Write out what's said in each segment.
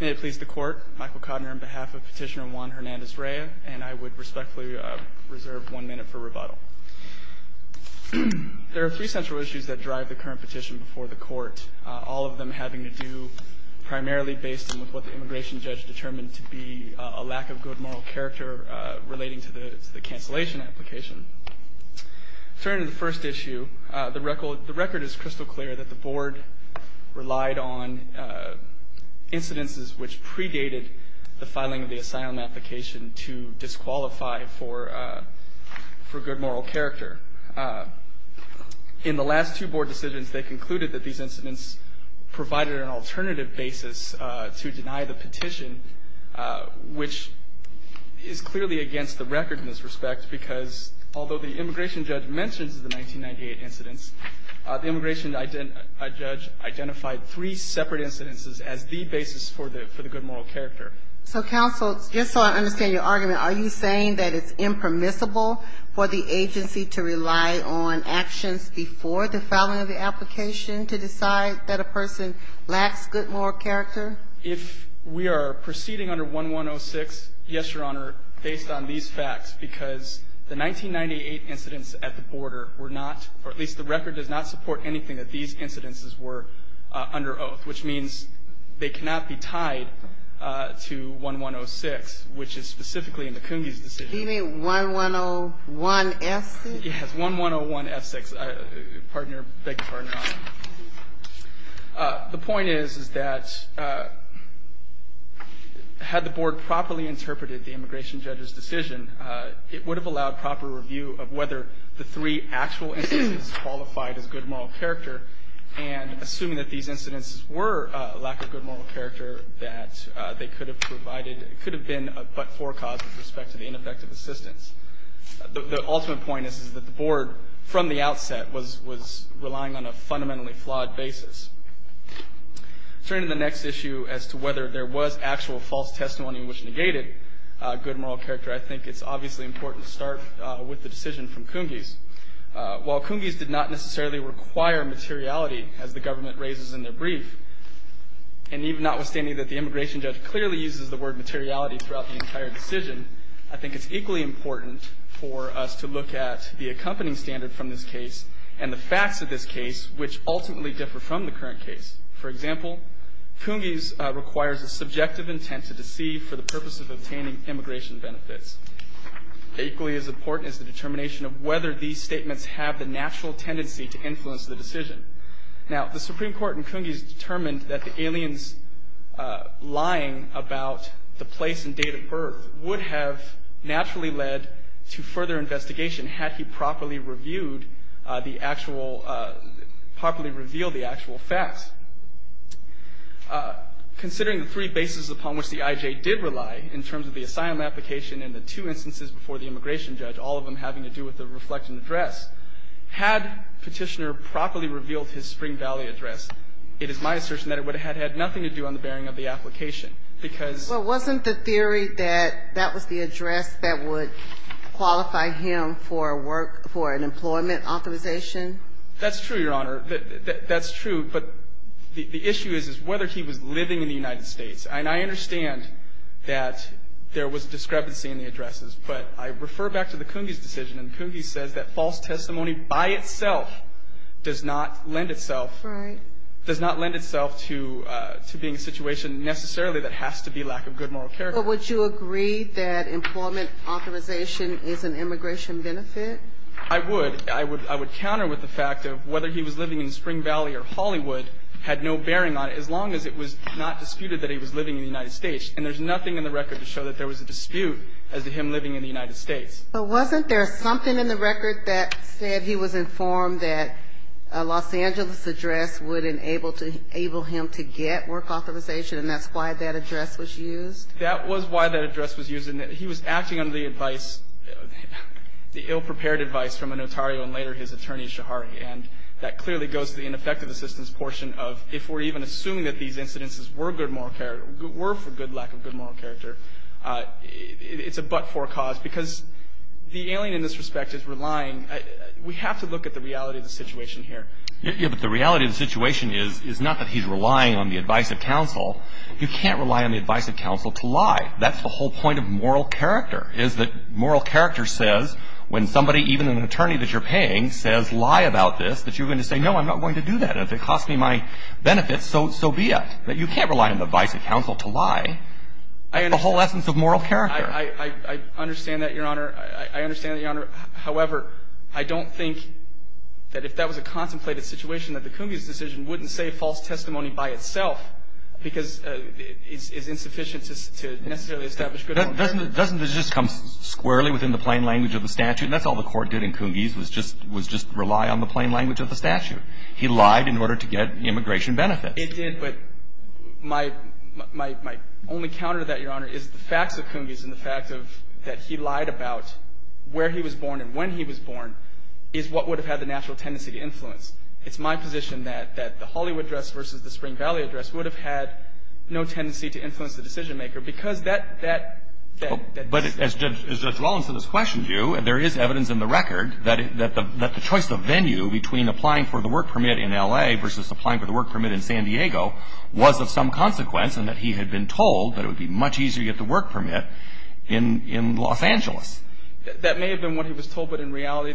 May it please the Court, Michael Kodner on behalf of Petitioner Juan Hernandez Rea, and I would respectfully reserve one minute for rebuttal. There are three central issues that drive the current petition before the Court, all of them having to do primarily based on what the immigration judge determined to be a lack of good moral character relating to the cancellation application. Turning to the first issue, the record is crystal clear that the Board relied on incidences which predated the filing of the asylum application to disqualify for good moral character. In the last two Board decisions, they concluded that these incidents provided an alternative basis to deny the application. Although the immigration judge mentions the 1998 incidents, the immigration judge identified three separate incidences as the basis for the good moral character. So, counsel, just so I understand your argument, are you saying that it's impermissible for the agency to rely on actions before the filing of the application to decide that a person lacks good moral character? If we are proceeding under 1106, yes, Your Honor, based on these facts, because the 1998 incidents at the border were not, or at least the record does not support anything that these incidences were under oath, which means they cannot be tied to 1106, which is specifically in the Coongies decision. You mean 1101F6? Yes, 1101F6. Thank you, Your Honor. The point is, is that had the Board properly interpreted the immigration judge's decision, it would have allowed proper review of whether the three actual incidents qualified as good moral character, and assuming that these incidents were a lack of good moral character, that they could have provided, could have been but for a cause with respect to the ineffective assistance. The ultimate point is that the Board, from the outset, was relying on a fundamentally flawed basis. Turning to the next issue as to whether there was actual false testimony which negated good moral character, I think it's obviously important to start with the decision from Coongies. While Coongies did not necessarily require materiality, as the government raises in their brief, and even notwithstanding that the immigration judge clearly uses the word materiality throughout the entire decision, I think it's equally important for us to look at the accompanying standard from this case and the facts of this case, which ultimately differ from the current case. For example, Coongies requires a subjective intent to deceive for the purpose of obtaining immigration benefits. Equally as important is the determination of whether these statements have the natural tendency to influence the decision. Now, the Supreme Court in Coongies determined that the aliens lying about the place and date of birth would have naturally led to further investigation had he properly revealed the actual facts. Considering the three bases upon which the IJ did rely in terms of the asylum application and the two instances before the immigration judge, all of them having to do with the reflected address, had Petitioner properly revealed his Spring Valley address, it is my assertion that it would have had nothing to do on the bearing of the application, because ---- Well, wasn't the theory that that was the address that would qualify him for work, for an employment authorization? That's true, Your Honor. That's true. But the issue is whether he was living in the United States. And I understand that there was discrepancy in the addresses, but I refer back to the Coongies decision, and Coongies says that false testimony by itself does not lend itself to being a situation necessarily that has to be lack of good moral character. But would you agree that employment authorization is an immigration benefit? I would. I would counter with the fact of whether he was living in Spring Valley or Hollywood had no bearing on it, as long as it was not disputed that he was living in the United States. And there's nothing in the record to show that there was a dispute as to him living in the United States. But wasn't there something in the record that said he was informed that a Los Angeles address would enable him to get work authorization, and that's why that address was used? That was why that address was used. He was acting under the advice, the ill-prepared advice from a notario and later his attorney, Shahari. And that clearly goes to the ineffective assistance portion of if we're even assuming that these incidences were good moral character, were for good lack of good moral character, it's a but-for cause, because the alien in this respect is relying. We have to look at the reality of the situation here. Yeah, but the reality of the situation is not that he's relying on the advice of counsel. You can't rely on the advice of counsel to lie. That's the whole point of moral character, is that moral character says when somebody, even an attorney that you're paying, says lie about this, that you're going to say, no, I'm not going to do that. If it costs me my benefits, so be it. But you can't rely on the advice of counsel to lie. The whole essence of moral character. I understand that, Your Honor. I understand that, Your Honor. However, I don't think that if that was a contemplated situation, that the Coongeys decision wouldn't say false testimony by itself, because it's insufficient to necessarily establish good moral character. Doesn't it just come squarely within the plain language of the statute? That's all the Court did in Coongeys, was just rely on the plain language of the statute. He lied in order to get immigration benefits. It did, but my only counter to that, Your Honor, is the facts of Coongeys and the fact that he lied about where he was born and when he was born is what would have had the natural tendency to influence. It's my position that the Hollywood address versus the Spring Valley address would have had no tendency to influence the decision-maker, because that — But as Judge Rawlinson has questioned you, there is evidence in the record that the choice of venue between applying for the work permit in L.A. versus applying for the work permit in San Diego was of some consequence and that he had been told that it would be much easier to get the work permit in Los Angeles. That may have been what he was told, but in reality,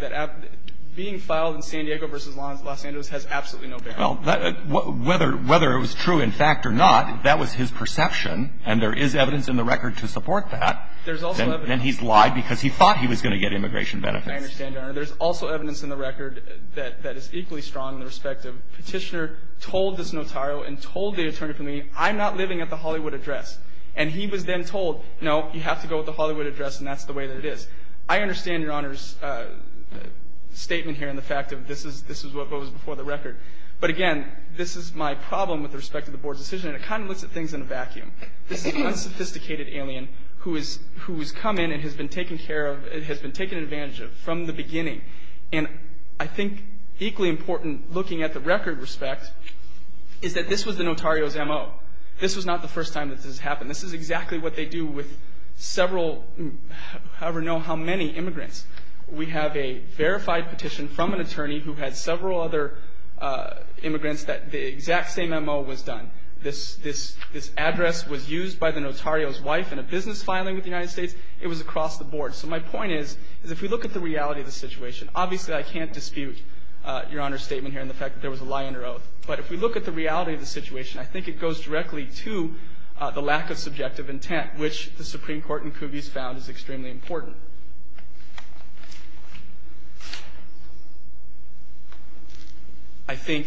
being filed in San Diego versus Los Angeles has absolutely no bearing. Well, whether it was true in fact or not, that was his perception, and there is evidence in the record to support that. There's also evidence. Then he's lied because he thought he was going to get immigration benefits. I understand, Your Honor. There's also evidence in the record that is equally strong in the respect of Petitioner told this notario and told the attorney for me, I'm not living at the Hollywood address. And he was then told, no, you have to go with the Hollywood address, and that's the way that it is. I understand Your Honor's statement here and the fact of this is what was before the record. But again, this is my problem with respect to the Board's decision, and it kind of looks at things in a vacuum. This is an unsophisticated alien who has come in and has been taken care of and has been taken advantage of from the beginning. And I think equally important looking at the record respect is that this was the notario's M.O. This was not the first time that this has happened. This is exactly what they do with several, however many immigrants. We have a verified petition from an attorney who had several other immigrants that the exact same M.O. was done. This address was used by the notario's wife in a business filing with the United States. It was across the board. So my point is, is if we look at the reality of the situation, obviously I can't dispute Your Honor's statement here and the fact that there was a lie in her oath. But if we look at the reality of the situation, I think it goes directly to the lack of subjective intent, which the Supreme Court in Cubis found is extremely important. I think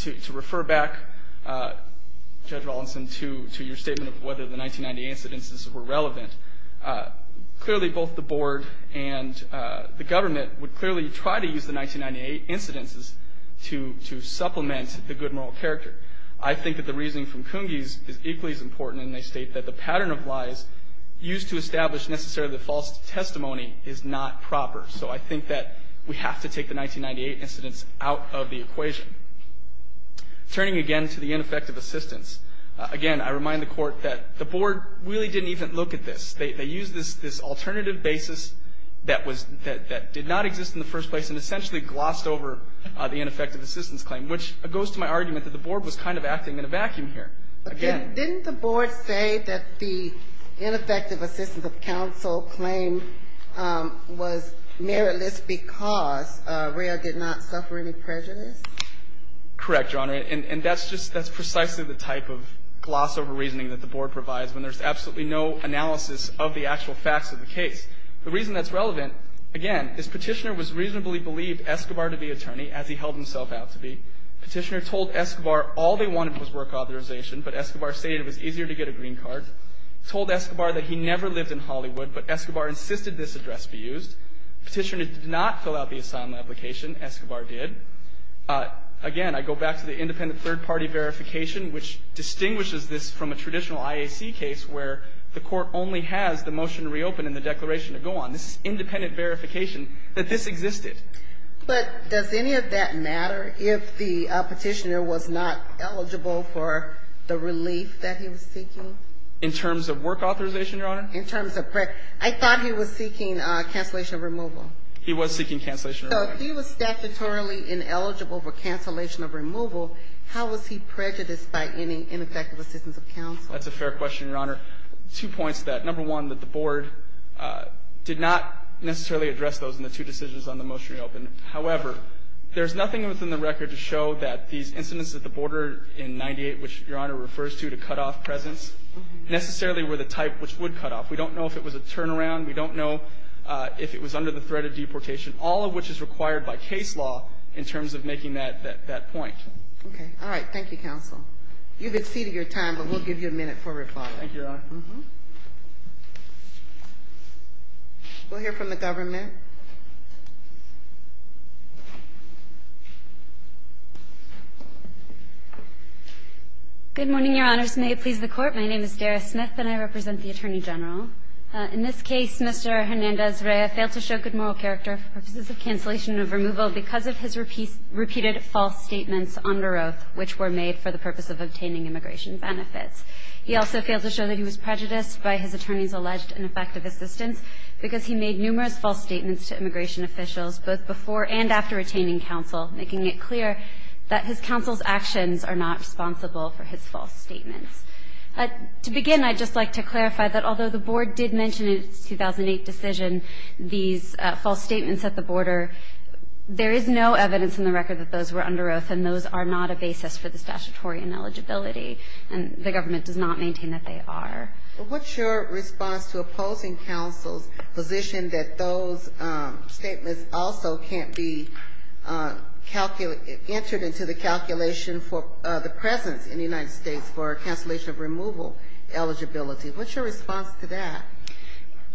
to refer back, Judge Rawlinson, to your statement of whether the 1998 incidences were relevant, clearly both the board and the government would clearly try to use the 1998 incidences to supplement the good moral character. I think that the reasoning from Cumbis is equally as important, and they state that the pattern of lies used to establish necessarily the false testimony is not proper. So I think that we have to take the 1998 incidents out of the equation. Turning again to the ineffective assistance, again, I remind the Court that the board really didn't even look at this. They used this alternative basis that did not exist in the first place and essentially glossed over the ineffective assistance claim, which goes to my argument that the board was kind of acting in a vacuum here. Again. Didn't the board say that the ineffective assistance of counsel claim was meritless because Rail did not suffer any prejudice? Correct, Your Honor. And that's just – that's precisely the type of gloss over reasoning that the board provides when there's absolutely no analysis of the actual facts of the case. The reason that's relevant, again, is Petitioner was reasonably believed Escobar to be attorney, as he held himself out to be. Petitioner told Escobar all they wanted was work authorization, but Escobar stated it was easier to get a green card. Told Escobar that he never lived in Hollywood, but Escobar insisted this address be used. Petitioner did not fill out the assignment application. Escobar did. Again, I go back to the independent third-party verification, which distinguishes this from a traditional IAC case where the Court only has the motion to reopen and the declaration to go on. This is independent verification that this existed. But does any of that matter if the Petitioner was not eligible for the relief that he was seeking? In terms of work authorization, Your Honor? In terms of – I thought he was seeking cancellation of removal. He was seeking cancellation of removal. So if he was statutorily ineligible for cancellation of removal, how was he prejudiced by any ineffective assistance of counsel? That's a fair question, Your Honor. Two points to that. Number one, that the Board did not necessarily address those in the two decisions on the motion to reopen. However, there's nothing within the record to show that these incidents at the border in 98, which Your Honor refers to to cut off presence, necessarily were the type which would cut off. We don't know if it was a turnaround. We don't know if it was under the threat of deportation, all of which is required by case law in terms of making that point. Okay. All right. Thank you, Counsel. You've exceeded your time, but we'll give you a minute for reply. Thank you, Your Honor. We'll hear from the government. Good morning, Your Honors. May it please the Court. My name is Dara Smith, and I represent the Attorney General. In this case, Mr. Hernandez-Reya failed to show good moral character for purposes of cancellation of removal because of his repeated false statements under oath which were made for the purpose of obtaining immigration benefits. He also failed to show that he was prejudiced by his attorney's alleged ineffective assistance because he made numerous false statements to immigration officials both before and after retaining counsel, making it clear that his counsel's actions are not responsible for his false statements. To begin, I'd just like to clarify that although the Board did mention in its 2008 decision these false statements at the border, there is no evidence in the record that those were under oath, and those are not a basis for the statutory ineligibility. And the government does not maintain that they are. What's your response to opposing counsel's position that those statements also can't be entered into the calculation for the presence in the United States for cancellation of removal eligibility? What's your response to that?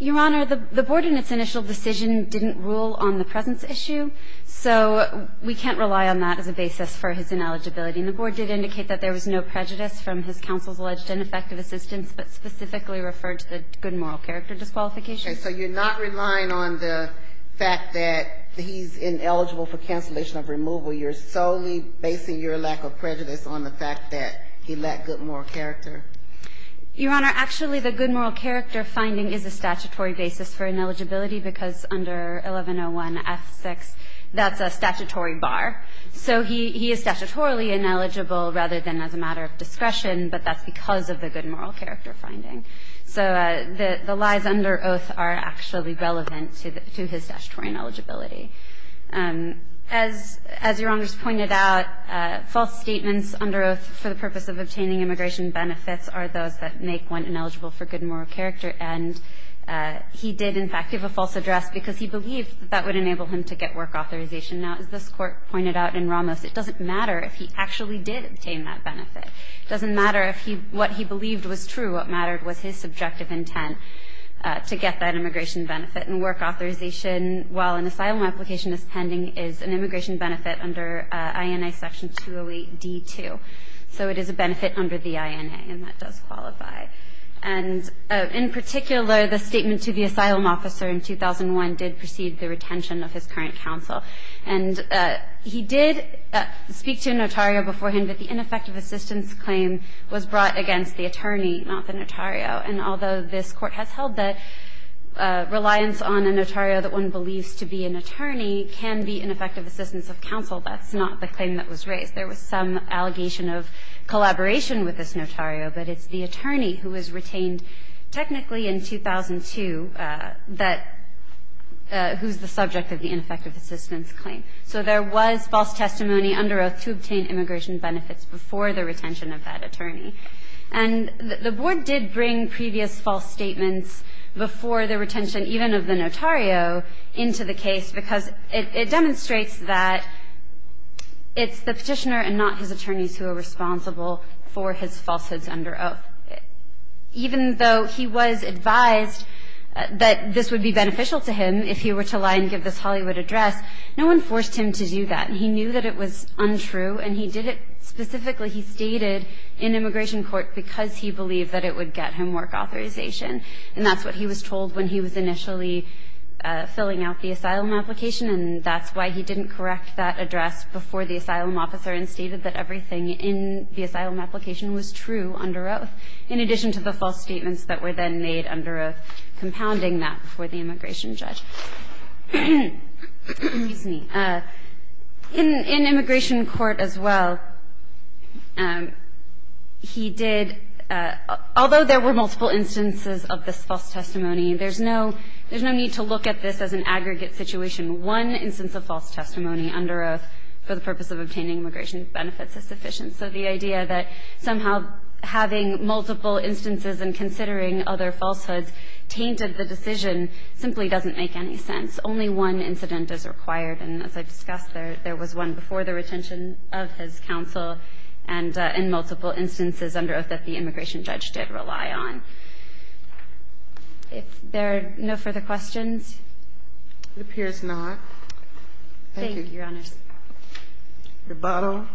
Your Honor, the Board in its initial decision didn't rule on the presence issue, so we can't rely on that as a basis for his ineligibility. And the Board did indicate that there was no prejudice from his counsel's alleged ineffective assistance, but specifically referred to the good moral character disqualification. Okay. So you're not relying on the fact that he's ineligible for cancellation of removal. You're solely basing your lack of prejudice on the fact that he lacked good moral character. Your Honor, actually, the good moral character finding is a statutory basis for ineligibility because under 1101F6, that's a statutory bar. So he is statutorily ineligible rather than as a matter of discretion, but that's because of the good moral character finding. So the lies under oath are actually relevant to his statutory ineligibility. As Your Honor's pointed out, false statements under oath for the purpose of obtaining immigration benefits are those that make one ineligible for good moral character. And he did, in fact, give a false address because he believed that that would enable him to get work authorization. Now, as this Court pointed out in Ramos, it doesn't matter if he actually did obtain that benefit. It doesn't matter if what he believed was true. What mattered was his subjective intent to get that immigration benefit. And work authorization, while an asylum application is pending, is an immigration benefit under INA section 208D2. So it is a benefit under the INA, and that does qualify. And in particular, the statement to the asylum officer in 2001 did precede the retention of his current counsel. And he did speak to a notario beforehand, but the ineffective assistance claim was brought against the attorney, not the notario. And although this Court has held that reliance on a notario that one believes to be an attorney can be ineffective assistance of counsel, that's not the claim that was raised. There was some allegation of collaboration with this notario, but it's the attorney who was retained technically in 2002 that was the subject of the ineffective assistance claim. So there was false testimony under oath to obtain immigration benefits before the retention of that attorney. And the Board did bring previous false statements before the retention even of the notario into the case because it demonstrates that it's the Petitioner and not his attorneys who are responsible for his falsehoods under oath. Even though he was advised that this would be beneficial to him if he were to lie and give this Hollywood address, no one forced him to do that. He knew that it was untrue, and he did it specifically. He stated in immigration court because he believed that it would get him work authorization, and that's what he was told when he was initially filling out the asylum application. And that's why he didn't correct that address before the asylum officer and stated that everything in the asylum application was true under oath, in addition to the false statements that were then made under oath compounding that before the immigration judge. In immigration court as well, he did, although there were multiple instances of this false testimony, there's no need to look at this as an aggregate situation. One instance of false testimony under oath for the purpose of obtaining immigration benefits is sufficient. So the idea that somehow having multiple instances and considering other falsehoods tainted the decision simply doesn't make any sense. Only one incident is required. And as I discussed, there was one before the retention of his counsel and in multiple instances under oath that the immigration judge did rely on. Are there no further questions? It appears not. Thank you, Your Honors. Your bottle.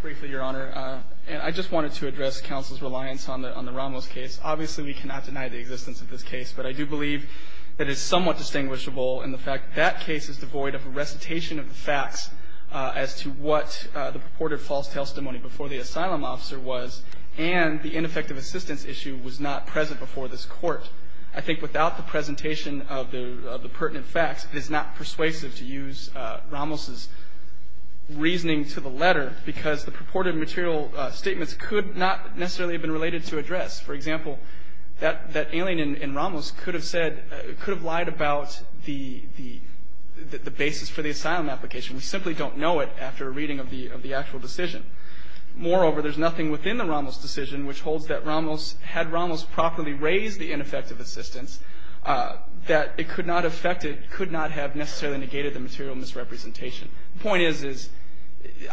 Briefly, Your Honor, I just wanted to address counsel's reliance on the Ramos case. Obviously, we cannot deny the existence of this case, but I do believe that it's somewhat distinguishable in the fact that that case is devoid of a recitation of the facts as to what the purported false testimony before the asylum officer was and the ineffective assistance issue was not present before this court. I think without the presentation of the pertinent facts, it is not persuasive to use Ramos's reasoning to the letter because the purported material statements could not necessarily have been related to address. For example, that alien in Ramos could have said, could have lied about the basis for the asylum application. We simply don't know it after a reading of the actual decision. Moreover, there's nothing within the Ramos decision which holds that Ramos, had Ramos properly raised the ineffective assistance, that it could not have affected, could not have necessarily negated the material misrepresentation. The point is, is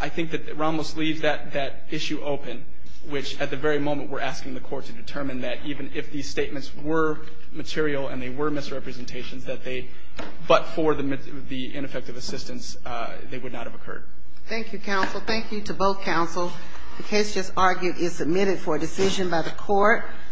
I think that Ramos leaves that issue open, which at the very moment we're asking the court to determine that even if these statements were material and they were misrepresentations, that they, but for the ineffective assistance, they would not have occurred. Thank you, counsel. Thank you to both counsel. The case just argued is submitted for a decision by the court.